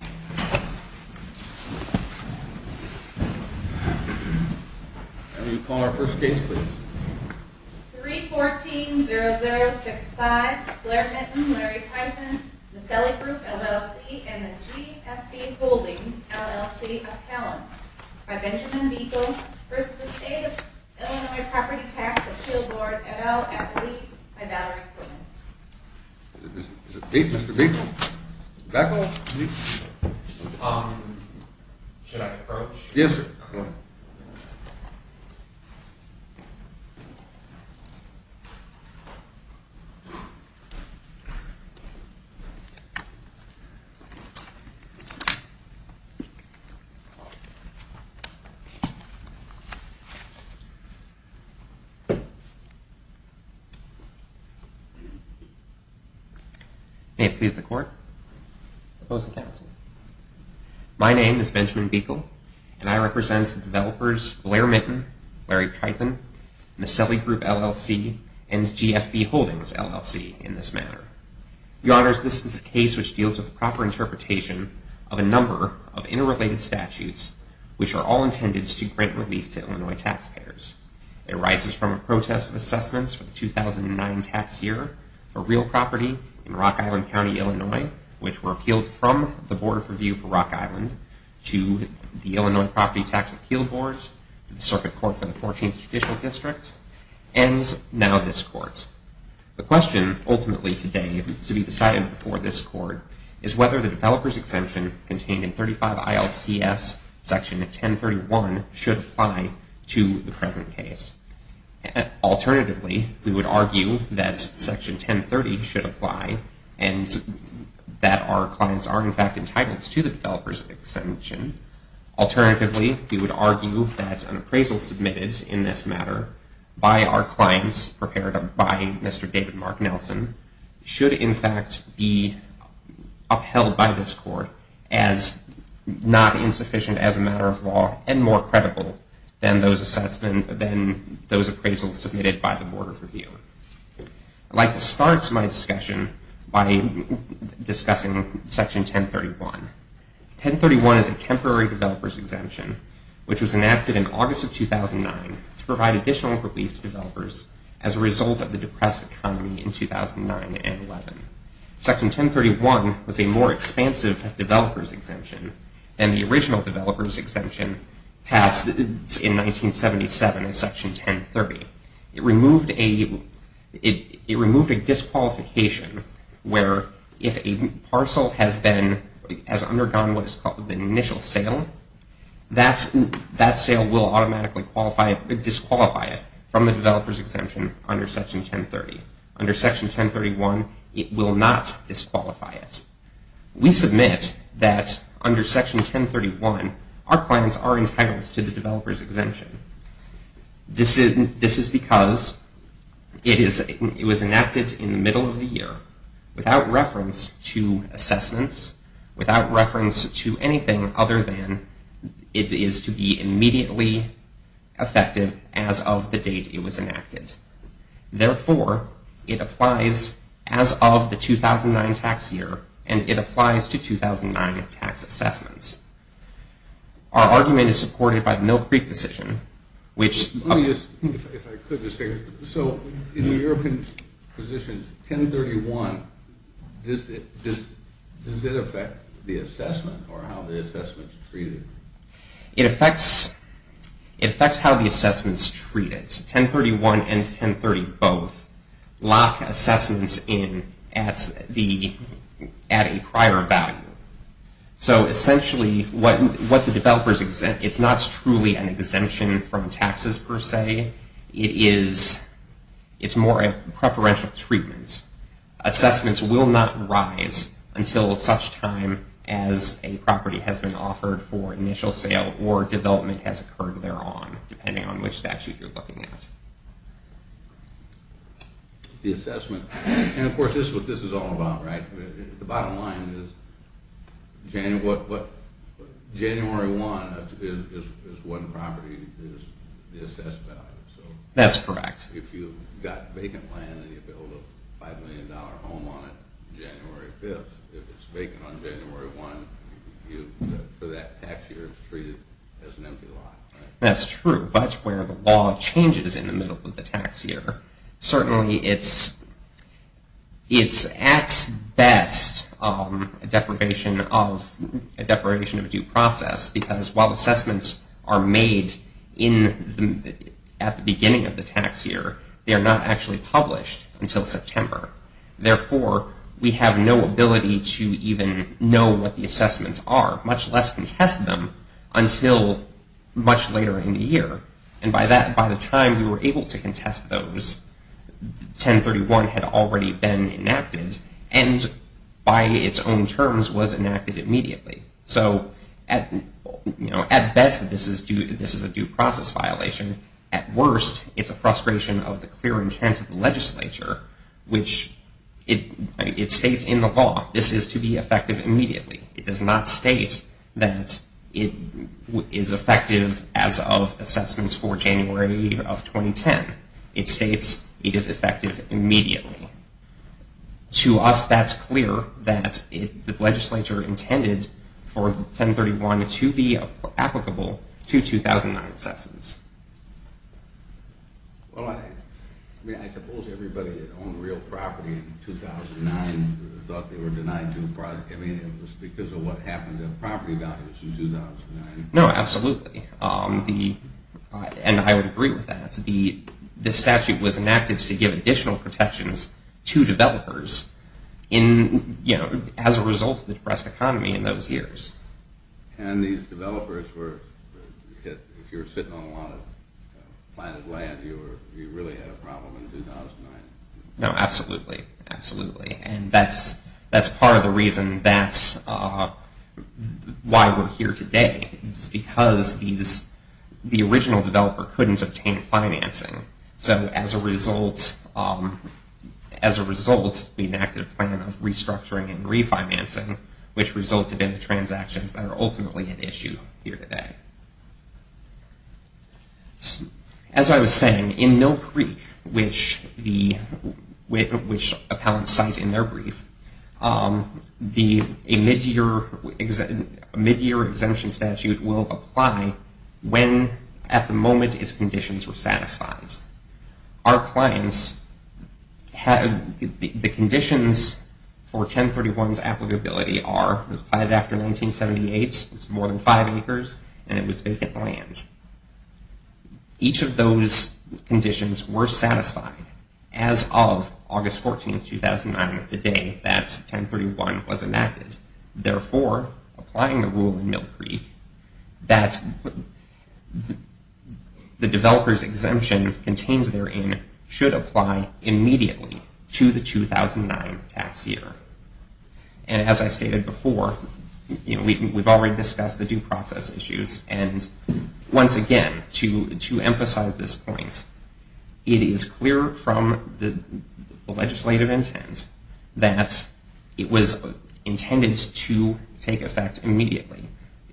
314-0065, Blair Minton, Larry Python, Miscellany Group, LLC, and the GFP Holdings, LLC, Appellants, by Benjamin Buechel, v. State, Illinois Property Tax, Appeal Board, et al., Appellee, by Valerie Quillen. Is it me, Mr. Buechel? Should I approach? Yes, sir. May it please the Court. Opposing counsel. My name is Benjamin Buechel, and I represent the developers Blair Minton, Larry Python, Miscellany Group, LLC, and GFP Holdings, LLC, in this matter. Your Honors, this is a case which deals with the proper interpretation of a number of interrelated statutes which are all intended to grant relief to Illinois taxpayers. It arises from a protest of assessments for the 2009 tax year for real property in Rock Island County, Illinois, which were appealed from the Board of Review for Rock Island to the Illinois Property Tax Appeal Board to the Circuit Court for the 14th Judicial District, and now this Court. The question ultimately today to be decided before this Court is whether the developer's exemption contained in 35 ILCS Section 1031 should apply to the present case. Alternatively, we would argue that Section 1030 should apply and that our clients are in fact entitled to the developer's exemption. Alternatively, we would argue that an appraisal submitted in this matter by our clients prepared by Mr. David Mark Nelson should in fact be upheld by this Court as not insufficient as a matter of law and more credible than those appraisals submitted by the Board of Review. I'd like to start my discussion by discussing Section 1031. 1031 is a temporary developer's exemption which was enacted in August of 2009 to provide additional relief to developers as a result of the depressed economy in 2009 and 11. Section 1031 was a more expansive developer's exemption than the original developer's exemption passed in 1977 in Section 1030. It removed a disqualification where if a parcel has undergone what is called an initial sale, that sale will automatically disqualify it from the developer's exemption under Section 1030. Under Section 1031, it will not disqualify it. We submit that under Section 1031, our clients are entitled to the developer's exemption. This is because it was enacted in the middle of the year without reference to assessments, without reference to anything other than it is to be immediately effective as of the date it was enacted. Therefore, it applies as of the 2009 tax year and it applies to 2009 tax assessments. Our argument is supported by the Mill Creek decision which... Let me just, if I could just say, so in the European position, 1031, does it affect the assessment or how the assessment is treated? It affects how the assessment is treated. 1031 and 1030 both lock assessments in at a prior value. So essentially, what the developers exempt, it's not truly an exemption from taxes per se. It is, it's more of preferential treatments. Assessments will not rise until such time as a property has been offered for initial sale or development has occurred thereon, depending on which statute you're looking at. The assessment, and of course this is what this is all about, right? The bottom line is January 1 is one property that is assessed value. That's correct. If you've got vacant land and you build a $5 million home on it January 5th, if it's vacant on January 1, for that tax year it's treated as an empty lot. That's true. That's where the law changes in the middle of the tax year. Certainly it's at best a deprivation of due process because while assessments are made at the beginning of the tax year, they are not actually published until September. Therefore, we have no ability to even know what the assessments are, much less contest them until much later in the year. And by the time we were able to contest those, 1031 had already been enacted and by its own terms was enacted immediately. So at best this is a due process violation. At worst it's a frustration of the clear intent of the legislature, which it states in the law this is to be effective immediately. It does not state that it is effective as of assessments for January of 2010. It states it is effective immediately. To us that's clear that the legislature intended for 1031 to be applicable to 2009 assessments. Well, I suppose everybody that owned real property in 2009 thought they were denied due process. I mean, it was because of what happened to property values in 2009. No, absolutely. And I would agree with that. The statute was enacted to give additional protections to developers as a result of the depressed economy in those years. And these developers were, if you were sitting on a lot of planted land, you really had a problem in 2009. No, absolutely. Absolutely. And that's part of the reason that's why we're here today. It's because the original developer couldn't obtain financing. So as a result, we enacted a plan of restructuring and refinancing, which resulted in the transactions that are ultimately at issue here today. As I was saying, in Mill Creek, which appellants cite in their brief, a mid-year exemption statute will apply when at the moment its conditions are satisfied. Our clients, the conditions for 1031's applicability are it was planted after 1978, it was more than five acres, and it was vacant land. Each of those conditions were satisfied as of August 14, 2009, the day that 1031 was enacted. And therefore, applying the rule in Mill Creek, that the developer's exemption contains therein should apply immediately to the 2009 tax year. And as I stated before, we've already discussed the due process issues. And once again, to emphasize this point, it is clear from the legislative intent that it was intended to take effect immediately.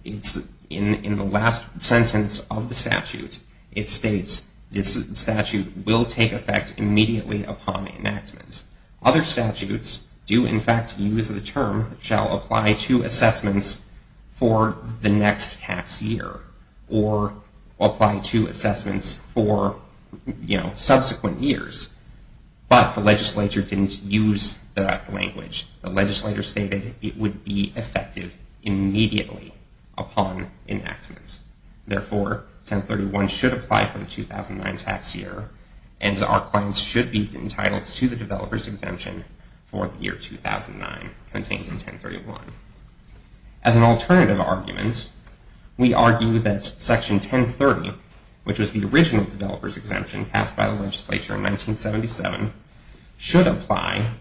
In the last sentence of the statute, it states this statute will take effect immediately upon enactment. Other statutes do, in fact, use the term shall apply to assessments for the next tax year or apply to assessments for subsequent years. But the legislature didn't use that language. The legislature stated it would be effective immediately upon enactment. Therefore, 1031 should apply for the 2009 tax year, and our clients should be entitled to the developer's exemption for the year 2009 contained in 1031. As an alternative argument, we argue that Section 1030, which was the original developer's exemption passed by the legislature in 1977, should apply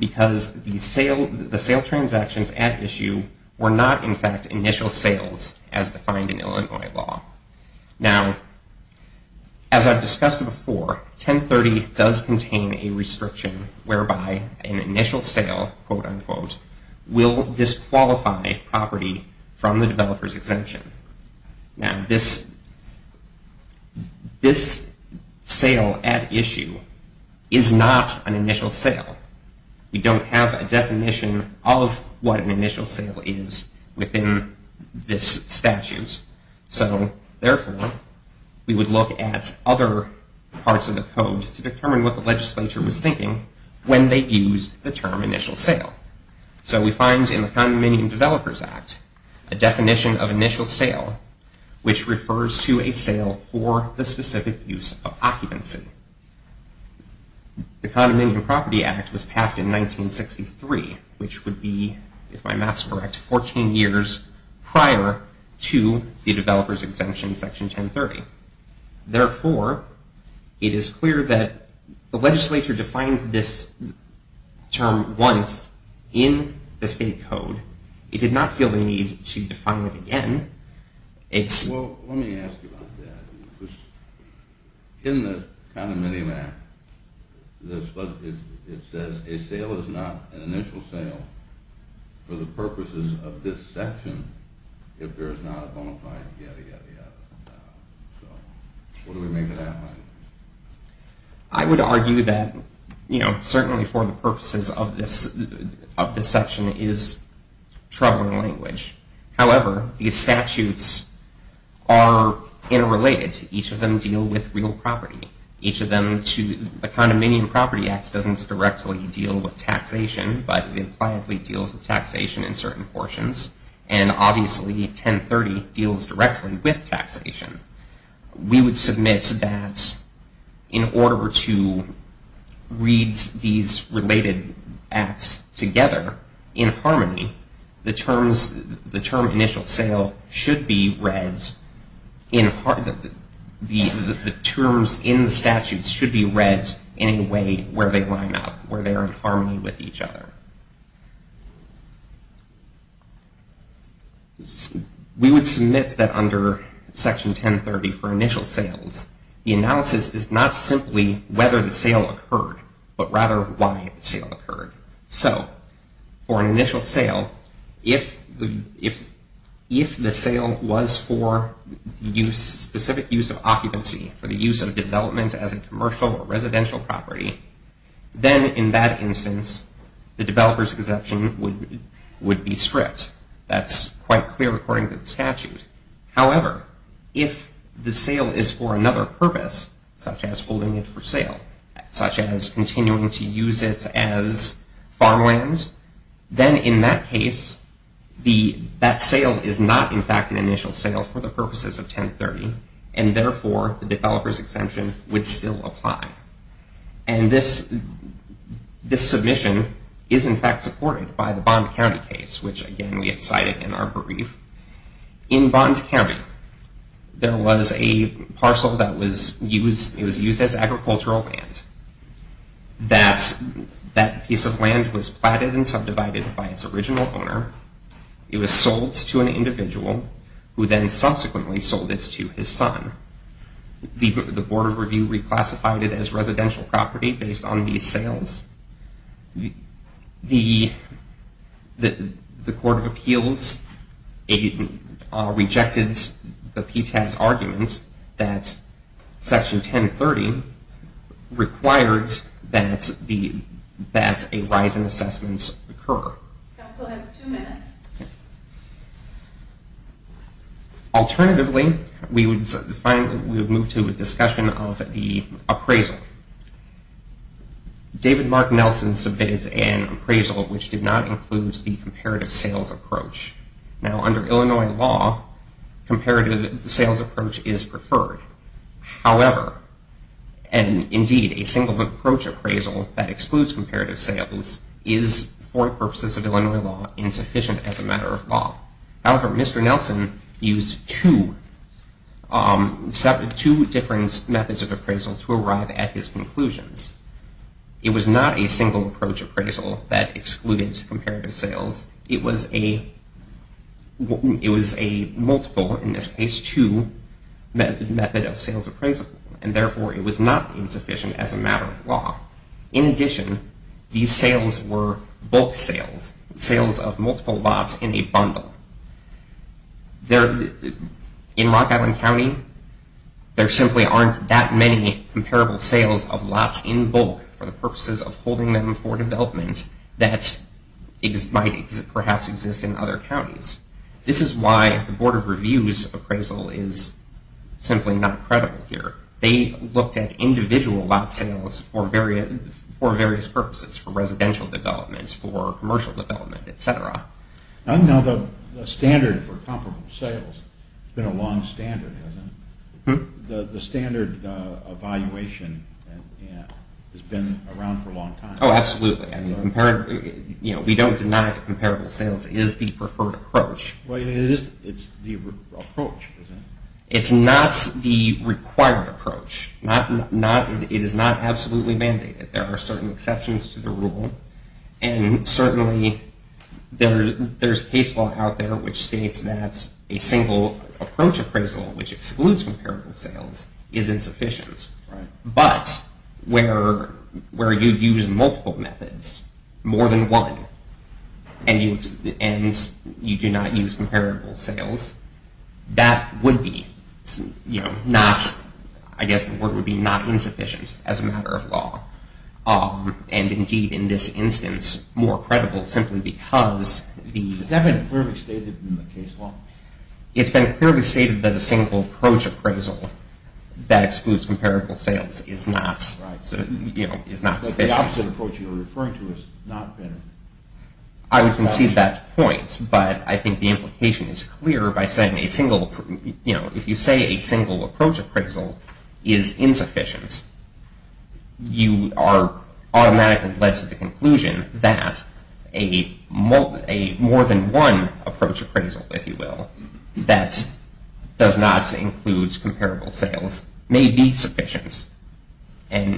because the sale transactions at issue were not, in fact, initial sales as defined in Illinois law. Now, as I've discussed before, 1030 does contain a restriction whereby an initial sale, quote unquote, will disqualify property from the developer's exemption. Now, this sale at issue is not an initial sale. We don't have a definition of what an initial sale is within this statute. So, therefore, we would look at other parts of the code to determine what the legislature was thinking when they used the term initial sale. So we find in the Condominium Developers Act a definition of initial sale, which refers to a sale for the specific use of occupancy. The Condominium Property Act was passed in 1963, which would be, if my math is correct, 14 years prior to the developer's exemption, Section 1030. Therefore, it is clear that the legislature defines this term once in the state code. It did not feel the need to define it again. Well, let me ask you about that. In the Condominium Act, it says a sale is not an initial sale for the purposes of this section if there is not a bona fide yada, yada, yada. So, what do we make of that? I would argue that, you know, certainly for the purposes of this section is troubling language. However, these statutes are interrelated. Each of them deal with real property. Each of them, the Condominium Property Act doesn't directly deal with taxation, but it impliedly deals with taxation in certain portions. And, obviously, 1030 deals directly with taxation. We would submit that in order to read these related acts together in harmony, the term initial sale should be read, the terms in the statutes should be read in a way where they line up, where they are in harmony with each other. We would submit that under Section 1030 for initial sales, the analysis is not simply whether the sale occurred, but rather why the sale occurred. So, for an initial sale, if the sale was for specific use of occupancy, for the use of development as a commercial or residential property, then in that instance, the developer's exemption would be stripped. That's quite clear according to the statute. However, if the sale is for another purpose, such as holding it for sale, such as continuing to use it as farmland, then in that case, that sale is not in fact an initial sale for the purposes of 1030. And, therefore, the developer's exemption would still apply. And this submission is, in fact, supported by the Bond County case, which, again, we have cited in our brief. In Bond County, there was a parcel that was used as agricultural land. That piece of land was platted and subdivided by its original owner. It was sold to an individual, who then subsequently sold it to his son. The Board of Review reclassified it as residential property based on these sales. The Court of Appeals rejected the PTAS arguments that Section 1030 requires that a rise in assessments occur. Council has two minutes. Alternatively, we would move to a discussion of the appraisal. David Mark Nelson submitted an appraisal which did not include the comparative sales approach. Now, under Illinois law, comparative sales approach is preferred. However, and indeed, a single approach appraisal that excludes comparative sales is, for the purposes of Illinois law, insufficient as a matter of law. However, Mr. Nelson used two different methods of appraisal to arrive at his conclusions. It was not a single approach appraisal that excluded comparative sales. It was a multiple, in this case, two method of sales appraisal, and therefore it was not insufficient as a matter of law. In addition, these sales were bulk sales, sales of multiple lots in a bundle. In Rock Island County, there simply aren't that many comparable sales of lots in bulk for the purposes of holding them for development that might perhaps exist in other counties. This is why the Board of Review's appraisal is simply not credible here. They looked at individual lot sales for various purposes, for residential development, for commercial development, etc. Now, the standard for comparable sales has been a long standard, hasn't it? The standard evaluation has been around for a long time. Oh, absolutely. We don't deny that comparable sales is the preferred approach. Well, it is the approach, isn't it? It's not the required approach. It is not absolutely mandated. There are certain exceptions to the rule, and certainly there's case law out there which states that a single approach appraisal, which excludes comparable sales, is insufficient. But where you use multiple methods, more than one, and you do not use comparable sales, that would be not insufficient as a matter of law. And indeed, in this instance, more credible simply because the... Has that been clearly stated in the case law? It's been clearly stated that a single approach appraisal that excludes comparable sales is not sufficient. But the opposite approach you're referring to has not been... I would concede that point, but I think the implication is clear by saying a single... that does not include comparable sales may be sufficient. Let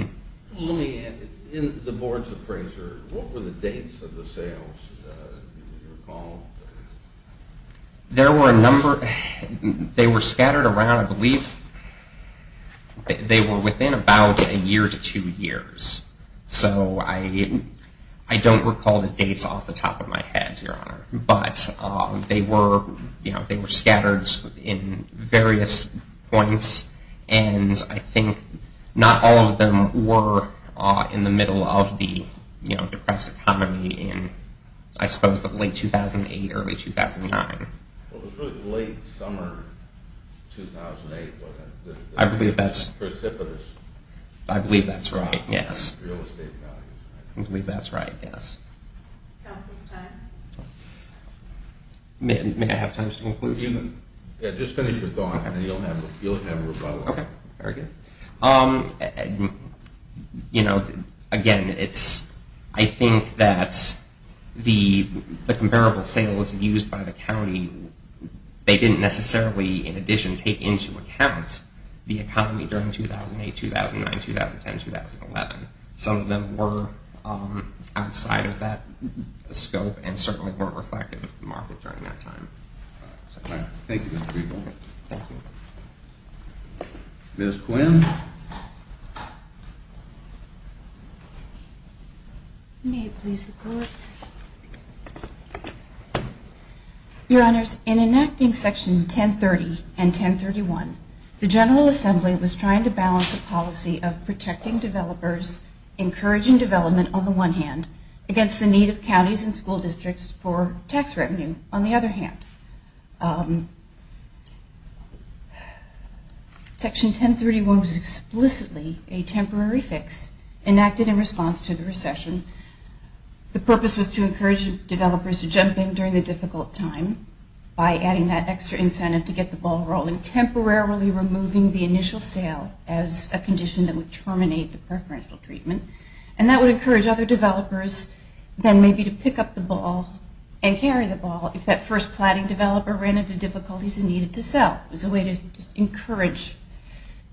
me add, in the board's appraisal, what were the dates of the sales, do you recall? There were a number... They were scattered around, I believe... They were within about a year to two years. So I don't recall the dates off the top of my head, Your Honor. But they were scattered in various points. And I think not all of them were in the middle of the depressed economy in, I suppose, the late 2008, early 2009. Well, it was really the late summer 2008, wasn't it? I believe that's... Precipitous. I believe that's right, yes. Real estate values. I believe that's right, yes. Counsel's time. May I have time to conclude? Yeah, just finish your thought and then you'll have a rebuttal. Okay, very good. Again, I think that the comparable sales used by the county, they didn't necessarily, in addition, take into account the economy during 2008, 2009, 2010, 2011. Some of them were outside of that scope and certainly weren't reflective of the market during that time. Thank you, Mr. Greenbaum. Thank you. Ms. Quinn. May it please the Court. Your Honors, in enacting Section 1030 and 1031, the General Assembly was trying to balance a policy of protecting developers, encouraging development on the one hand, against the need of counties and school districts for tax revenue on the other hand. Section 1031 was explicitly a temporary fix enacted in response to the recession. The purpose was to encourage developers to jump in during the difficult time by adding that extra incentive to get the ball rolling, temporarily removing the initial sale as a condition that would terminate the preferential treatment. And that would encourage other developers then maybe to pick up the ball and carry the ball if that first platting developer ran into difficulties and needed to sell. It was a way to just encourage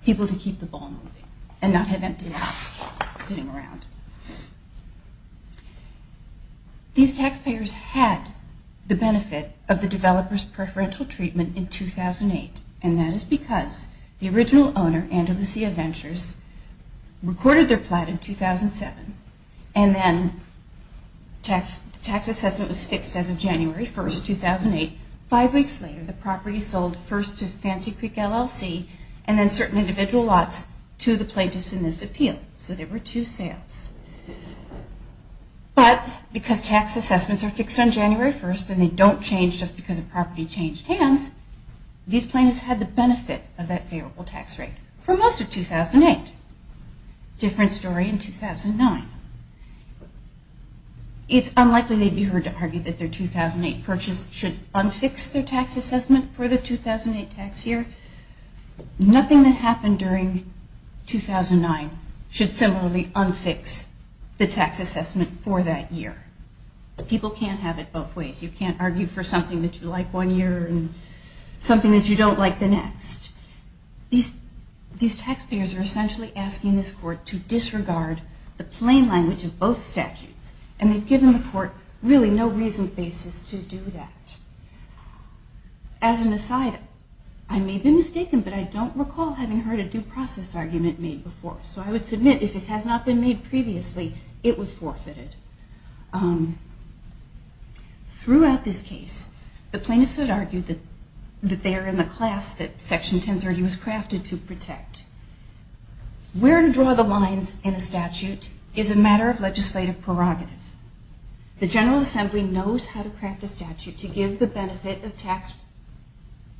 people to keep the ball moving and not have empty lots sitting around. These taxpayers had the benefit of the developer's preferential treatment in 2008, and that is because the original owner, Andalusia Ventures, recorded their plat in 2007, and then the tax assessment was fixed as of January 1, 2008. Five weeks later, the property sold first to Fancy Creek LLC, and then certain individual lots to the plaintiffs in this appeal. So there were two sales. But because tax assessments are fixed on January 1st, and they don't change just because a property changed hands, these plaintiffs had the benefit of that favorable tax rate for most of 2008. Different story in 2009. It's unlikely they'd be heard to argue that their 2008 purchase should unfix their tax assessment for the 2008 tax year. Nothing that happened during 2009 should similarly unfix the tax assessment for that year. People can't have it both ways. You can't argue for something that you like one year and something that you don't like the next. These taxpayers are essentially asking this court to disregard the plain language of both statutes, and they've given the court really no reason basis to do that. As an aside, I may be mistaken, but I don't recall having heard a due process argument made before, so I would submit if it has not been made previously, it was forfeited. Throughout this case, the plaintiffs had argued that they are in the class that Section 1030 was crafted to protect. Where to draw the lines in a statute is a matter of legislative prerogative. The General Assembly knows how to craft a statute to give the benefit of tax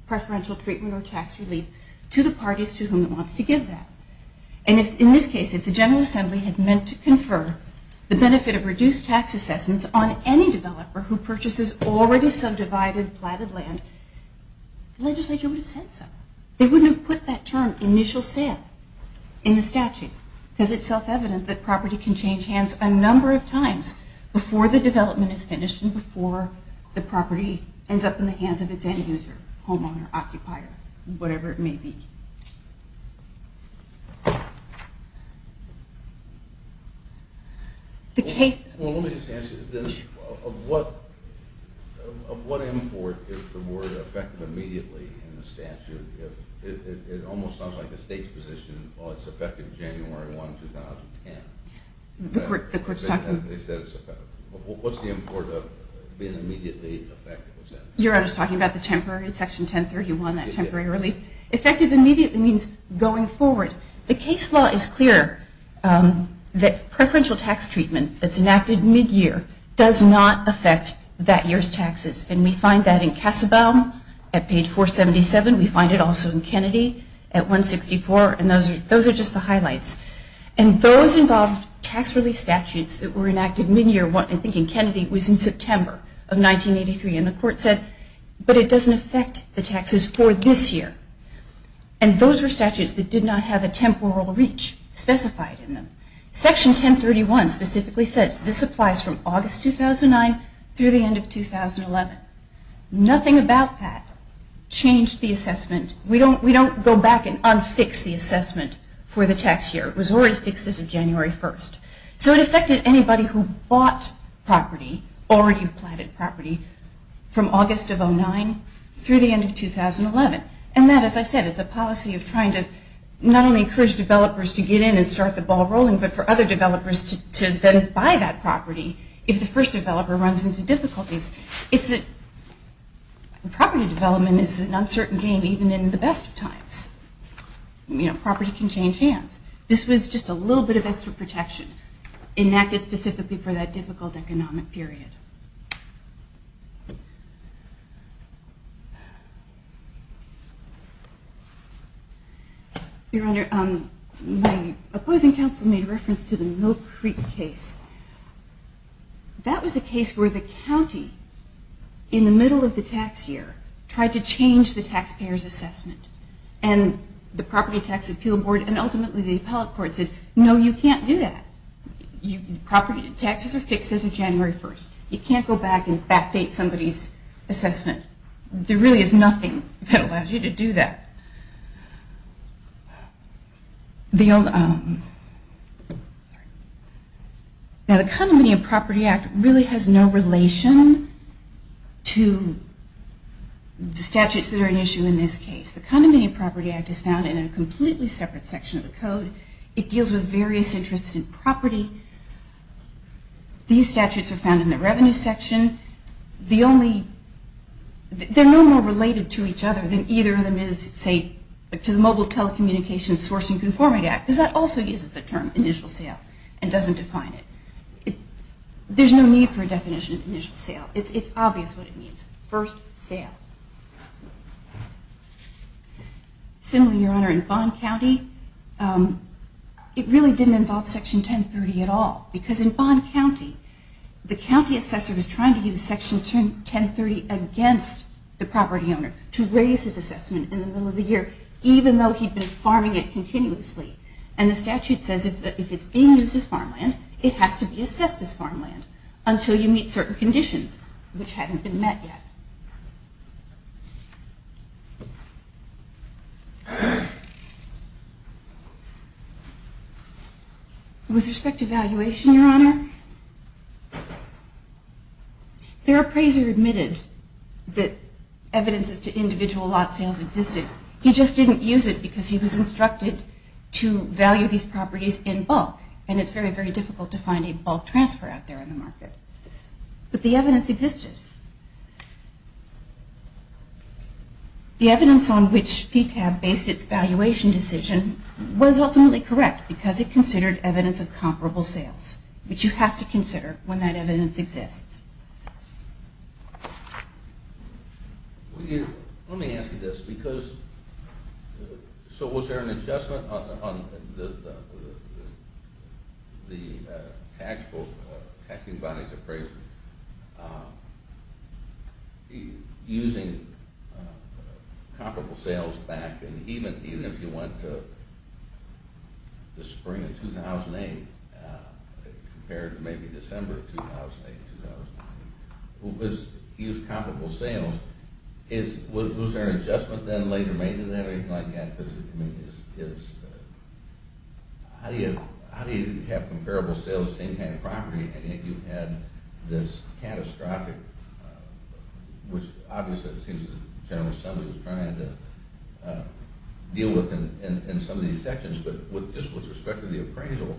preferential treatment or tax relief to the parties to whom it wants to give that. In this case, if the General Assembly had meant to confer the benefit of reduced tax assessments on any developer who purchases already subdivided, platted land, the legislature would have said so. They wouldn't have put that term, initial sale, in the statute because it's self-evident that property can change hands a number of times before the development is finished and before the property ends up in the hands of its end user, homeowner, occupier, whatever it may be. Well, let me just answer this. Of what import is the word effective immediately in the statute? It almost sounds like the state's position, well, it's effective January 1, 2010. They said it's effective. What's the import of being immediately effective? You're just talking about the temporary Section 1031, that temporary relief? Effective immediately. Effective immediately means going forward. The case law is clear that preferential tax treatment that's enacted mid-year does not affect that year's taxes. And we find that in Kassebaum at page 477. We find it also in Kennedy at 164. And those are just the highlights. And those involved tax relief statutes that were enacted mid-year, I think in Kennedy, was in September of 1983. And the court said, but it doesn't affect the taxes for this year. And those were statutes that did not have a temporal reach specified in them. Section 1031 specifically says this applies from August 2009 through the end of 2011. Nothing about that changed the assessment. We don't go back and unfix the assessment for the tax year. It was already fixed as of January 1. So it affected anybody who bought property, already platted property, from August of 2009 through the end of 2011. And that, as I said, is a policy of trying to not only encourage developers to get in and start the ball rolling, but for other developers to then buy that property if the first developer runs into difficulties. Property development is an uncertain game even in the best of times. Property can change hands. This was just a little bit of extra protection enacted specifically for that difficult economic period. Your Honor, my opposing counsel made reference to the Mill Creek case. That was a case where the county, in the middle of the tax year, tried to change the taxpayer's assessment. And the Property Tax Appeal Board and ultimately the appellate court said, no, you can't do that. Taxes are fixed as of January 1. You can't go back and backdate somebody's assessment. There really is nothing that allows you to do that. Now, the Condominium Property Act really has no relation to the statutes that are at issue in this case. The Condominium Property Act is found in a completely separate section of the code. It deals with various interests in property. These statutes are found in the revenue section. They're no more related to each other than either of them is, say, to the Mobile Telecommunications Sourcing Conformity Act, because that also uses the term initial sale and doesn't define it. There's no need for a definition of initial sale. It's obvious what it means. First, sale. Similarly, Your Honor, in Bond County, it really didn't involve Section 1030 at all, because in Bond County, the county assessor was trying to use Section 1030 against the property owner to raise his assessment in the middle of the year, even though he'd been farming it continuously. And the statute says that if it's being used as farmland, it has to be assessed as farmland until you meet certain conditions, which hadn't been met yet. With respect to valuation, Your Honor, their appraiser admitted that evidence as to individual lot sales existed. He just didn't use it because he was instructed to value these properties in bulk, and it's very, very difficult to find a bulk transfer out there on the market. But the evidence existed. The evidence on which PTAB based its valuation decision was ultimately correct because it considered evidence of comparable sales, which you have to consider when that evidence exists. Let me ask you this. So was there an adjustment on the taxing body's appraiser using comparable sales back? And even if you went to the spring of 2008, compared to maybe December of 2008, he used comparable sales. Was there an adjustment then later? Maybe they didn't have anything like that. How do you have comparable sales on the same kind of property and yet you had this catastrophic, which obviously it seems that General Assembly was trying to deal with in some of these sections, but just with respect to the appraisal,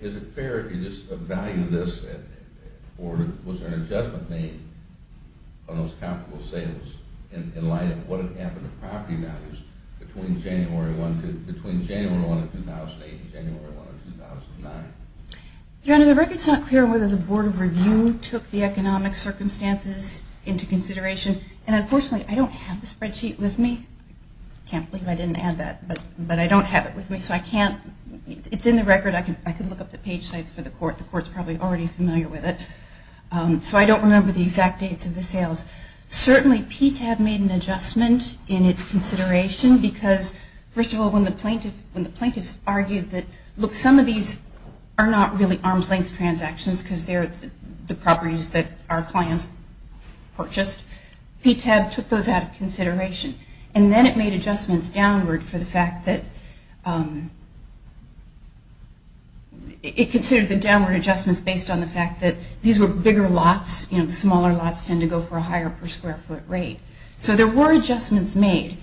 is it fair if you just value this or was there an adjustment made on those comparable sales in light of what had happened to property values between January 1 of 2008 and January 1 of 2009? Your Honor, the record is not clear whether the Board of Review took the economic circumstances into consideration, and unfortunately I don't have the spreadsheet with me. I can't believe I didn't have that, but I don't have it with me, so it's in the record. I can look up the page sites for the Court. The Court's probably already familiar with it. So I don't remember the exact dates of the sales. Certainly PTAB made an adjustment in its consideration because, first of all, when the plaintiffs argued that, look, some of these are not really arm's-length transactions because they're the properties that our clients purchased, PTAB took those out of consideration. And then it made adjustments downward for the fact that it considered the downward adjustments based on the fact that these were bigger lots, you know, the smaller lots tend to go for a higher per-square-foot rate. So there were adjustments made.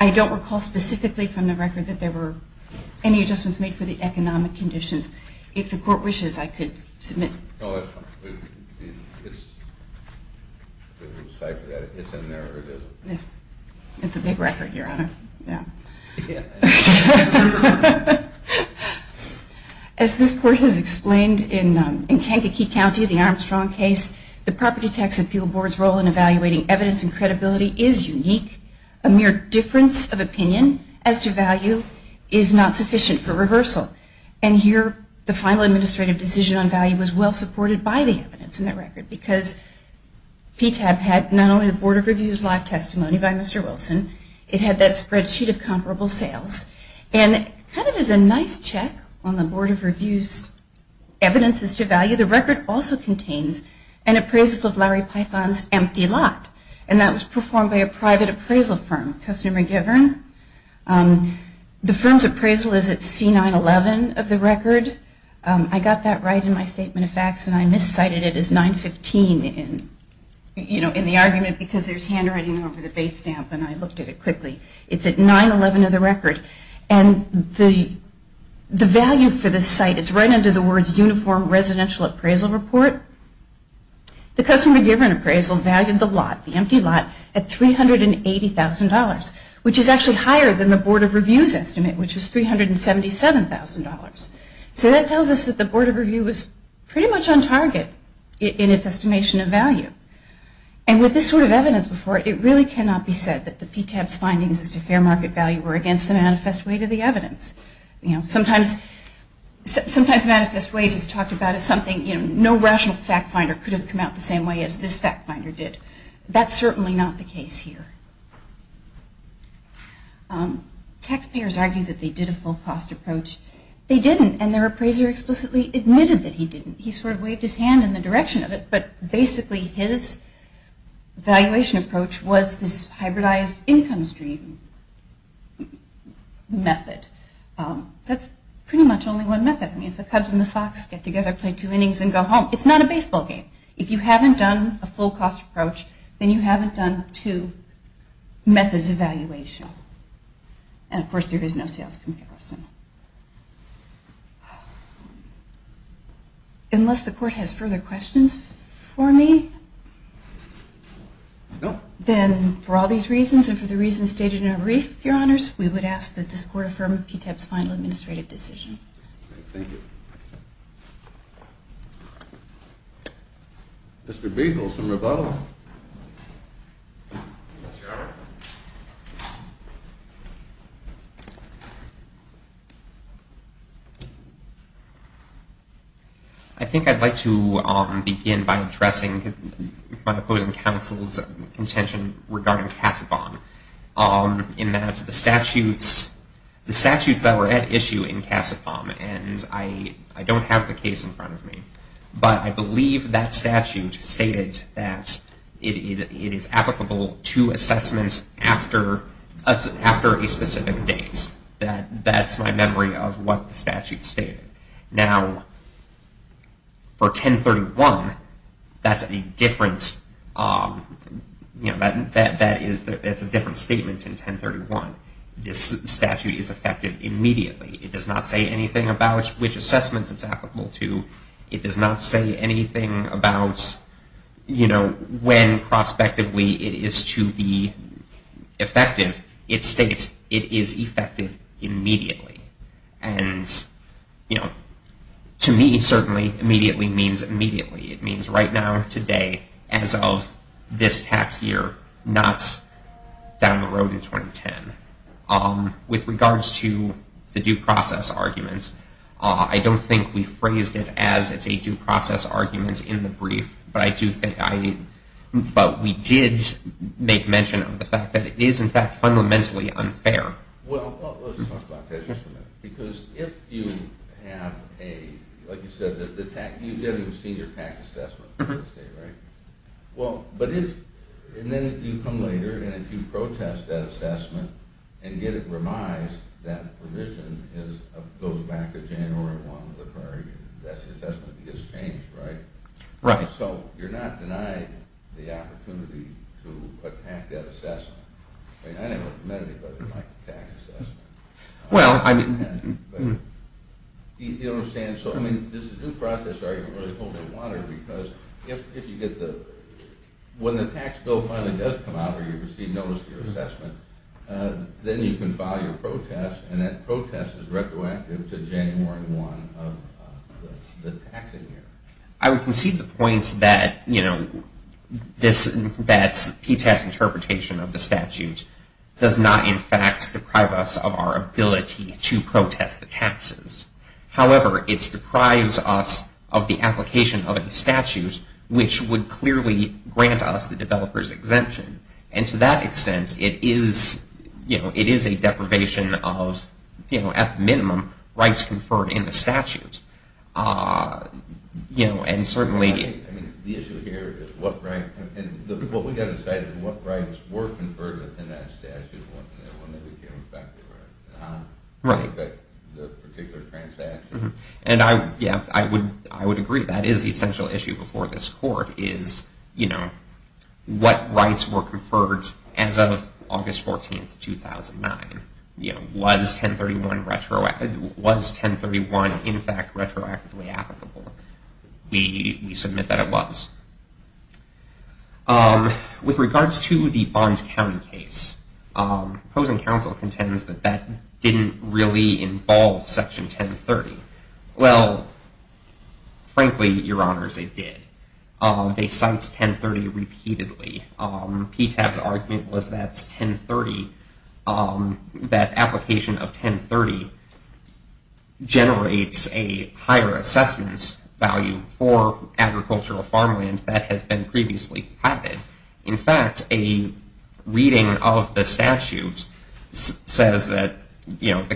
I don't recall specifically from the record that there were any adjustments made for the economic conditions. If the Court wishes, I could submit. No, that's fine. It's in there. It's a big record, Your Honor. Yeah. As this Court has explained in Kankakee County, the Armstrong case, the Property Tax Appeal Board's role in evaluating evidence and credibility is unique. A mere difference of opinion as to value is not sufficient for reversal. And here the final administrative decision on value was well supported by the evidence in that record because PTAB had not only the Board of Review's live testimony by Mr. Wilson, it had that spreadsheet of comparable sales. And kind of as a nice check on the Board of Review's evidences to value, the record also contains an appraisal of Larry Python's empty lot. And that was performed by a private appraisal firm, Kostner & McGivern. The firm's appraisal is at C911 of the record. I got that right in my statement of facts, and I miscited it as 915 in the argument because there's handwriting over the base stamp, and I looked at it quickly. It's at 911 of the record. And the value for this site is right under the words Uniform Residential Appraisal Report. The Kostner & McGivern appraisal valued the lot, at $380,000, which is actually higher than the Board of Review's estimate, which is $377,000. So that tells us that the Board of Review was pretty much on target in its estimation of value. And with this sort of evidence before it, it really cannot be said that the PTAB's findings as to fair market value were against the manifest weight of the evidence. You know, sometimes manifest weight is talked about as something, you know, no rational fact finder could have come out the same way as this fact finder did. That's certainly not the case here. Taxpayers argue that they did a full cost approach. They didn't, and their appraiser explicitly admitted that he didn't. He sort of waved his hand in the direction of it, but basically his valuation approach was this hybridized income stream method. That's pretty much only one method. I mean, if the Cubs and the Sox get together, play two innings, and go home, it's not a baseball game. If you haven't done a full cost approach, then you haven't done two methods of valuation. And, of course, there is no sales comparison. Unless the Court has further questions for me, then for all these reasons and for the reasons stated in Arif, Your Honors, we would ask that this Court affirm PTAB's final administrative decision. Thank you. Mr. Beasles in rebuttal. Yes, Your Honor. I think I'd like to begin by addressing my opposing counsel's contention regarding Casabon in that the statutes that were issued in Casabon, and I don't have the case in front of me, but I believe that statute stated that it is applicable to assessments after a specific date. That's my memory of what the statute stated. Now, for 1031, that's a different statement in 1031. This statute is effective immediately. It does not say anything about which assessments it's applicable to. It does not say anything about when prospectively it is to be effective. It states it is effective immediately. To me, certainly, immediately means immediately. It means right now, today, as of this tax year, not down the road in 2010. With regards to the due process arguments, I don't think we phrased it as it's a due process argument in the brief, but I do think I, but we did make mention of the fact that it is, in fact, fundamentally unfair. Well, let's talk about that just a minute. Because if you have a, like you said, you've never even seen your tax assessment, right? And then if you come later and if you protest that assessment and get it revised, that revision goes back to January 1 of the prior year. That's the assessment that gets changed, right? Right. So you're not denied the opportunity to attack that assessment. I never met anybody who liked the tax assessment. Well, I mean. You know what I'm saying? So, I mean, this is due process argument really holding water because if you get the, when the tax bill finally does come out or you receive notice of your assessment, then you can file your protest and that protest is retroactive to January 1 of the taxing year. I would concede the point that, you know, that PTAS interpretation of the statute does not, in fact, deprive us of our ability to protest the taxes. However, it deprives us of the application of the statute, which would clearly grant us the developer's exemption. And to that extent, it is, you know, it is a deprivation of, you know, at the minimum rights conferred in the statute. You know, and certainly. The issue here is what right, what we got to say is what rights were conferred in that statute when they became effective. Right. The particular transaction. And I, yeah, I would agree. That is the essential issue before this court is, you know, what rights were conferred as of August 14, 2009. You know, was 1031 retroactive, was 1031, in fact, retroactively applicable? We submit that it was. With regards to the Barnes County case, opposing counsel contends that that didn't really involve Section 1030. Well, frankly, Your Honors, it did. They cite 1030 repeatedly. PTAS argument was that 1030, that application of 1030 generates a higher assessment value for agricultural farmland that has been previously platted. In fact, a reading of the statute says that, you know, the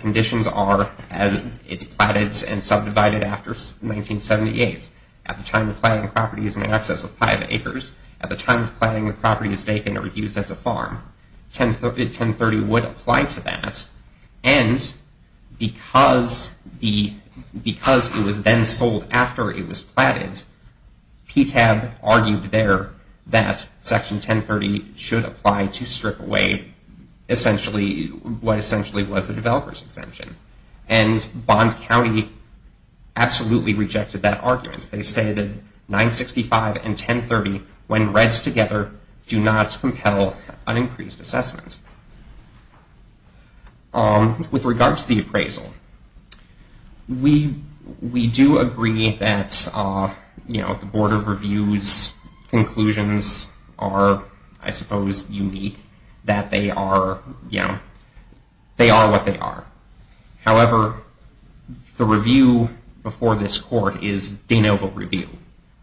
conditions are as it's platted and subdivided after 1978. At the time of planting, the property is in excess of five acres. At the time of planting, the property is vacant or used as a farm. 1030 would apply to that. And because it was then sold after it was platted, PTAS argued there that Section 1030 should apply to strip away essentially what essentially was the developer's exemption. And Barnes County absolutely rejected that argument. They stated 965 and 1030, when read together, do not compel an increased assessment. With regard to the appraisal, we do agree that, you know, the Board of Review's conclusions are, I suppose, unique, that they are, you know, they are what they are. However, the review before this court is de novo review.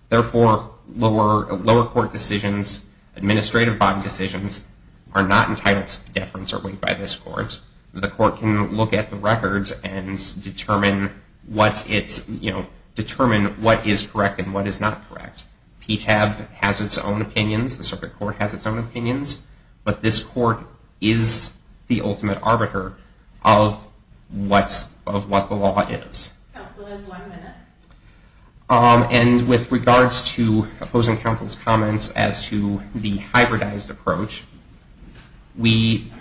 Therefore, lower court decisions, administrative bond decisions, are not entitled to deference or weight by this court. The court can look at the records and determine what it's, you know, determine what is correct and what is not correct. PTAB has its own opinions. The circuit court has its own opinions. But this court is the ultimate arbiter of what the law is. Counsel has one minute. And with regards to opposing counsel's comments as to the hybridized approach, we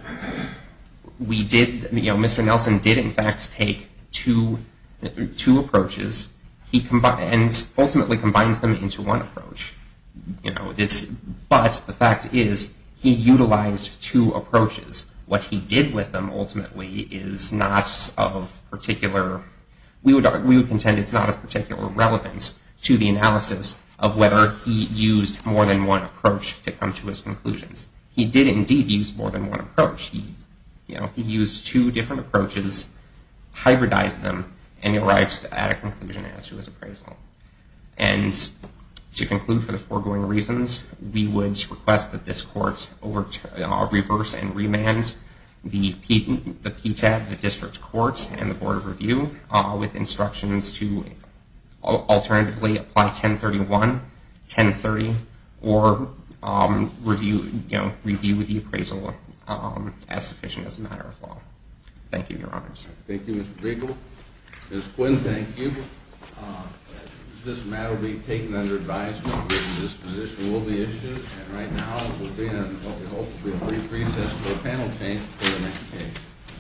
did, you know, Mr. Nelson did in fact take two approaches. He ultimately combines them into one approach. You know, but the fact is he utilized two approaches. What he did with them ultimately is not of particular, we would contend it's not of particular relevance to the analysis of whether he used more than one approach to come to his conclusions. He did indeed use more than one approach. You know, he used two different approaches, hybridized them, and he arrives at a conclusion as to his appraisal. And to conclude for the foregoing reasons, we would request that this court reverse and remand the PTAB, the district court, and the board of review with instructions to alternatively apply 1031, 1030, or review the appraisal as sufficient as a matter of law. Thank you, Your Honors. Thank you, Mr. Briegel. Ms. Quinn, thank you. This matter will be taken under advisement. This position will be issued. And right now, we'll be in what we hope will be a brief recess until the panel changes to the next page.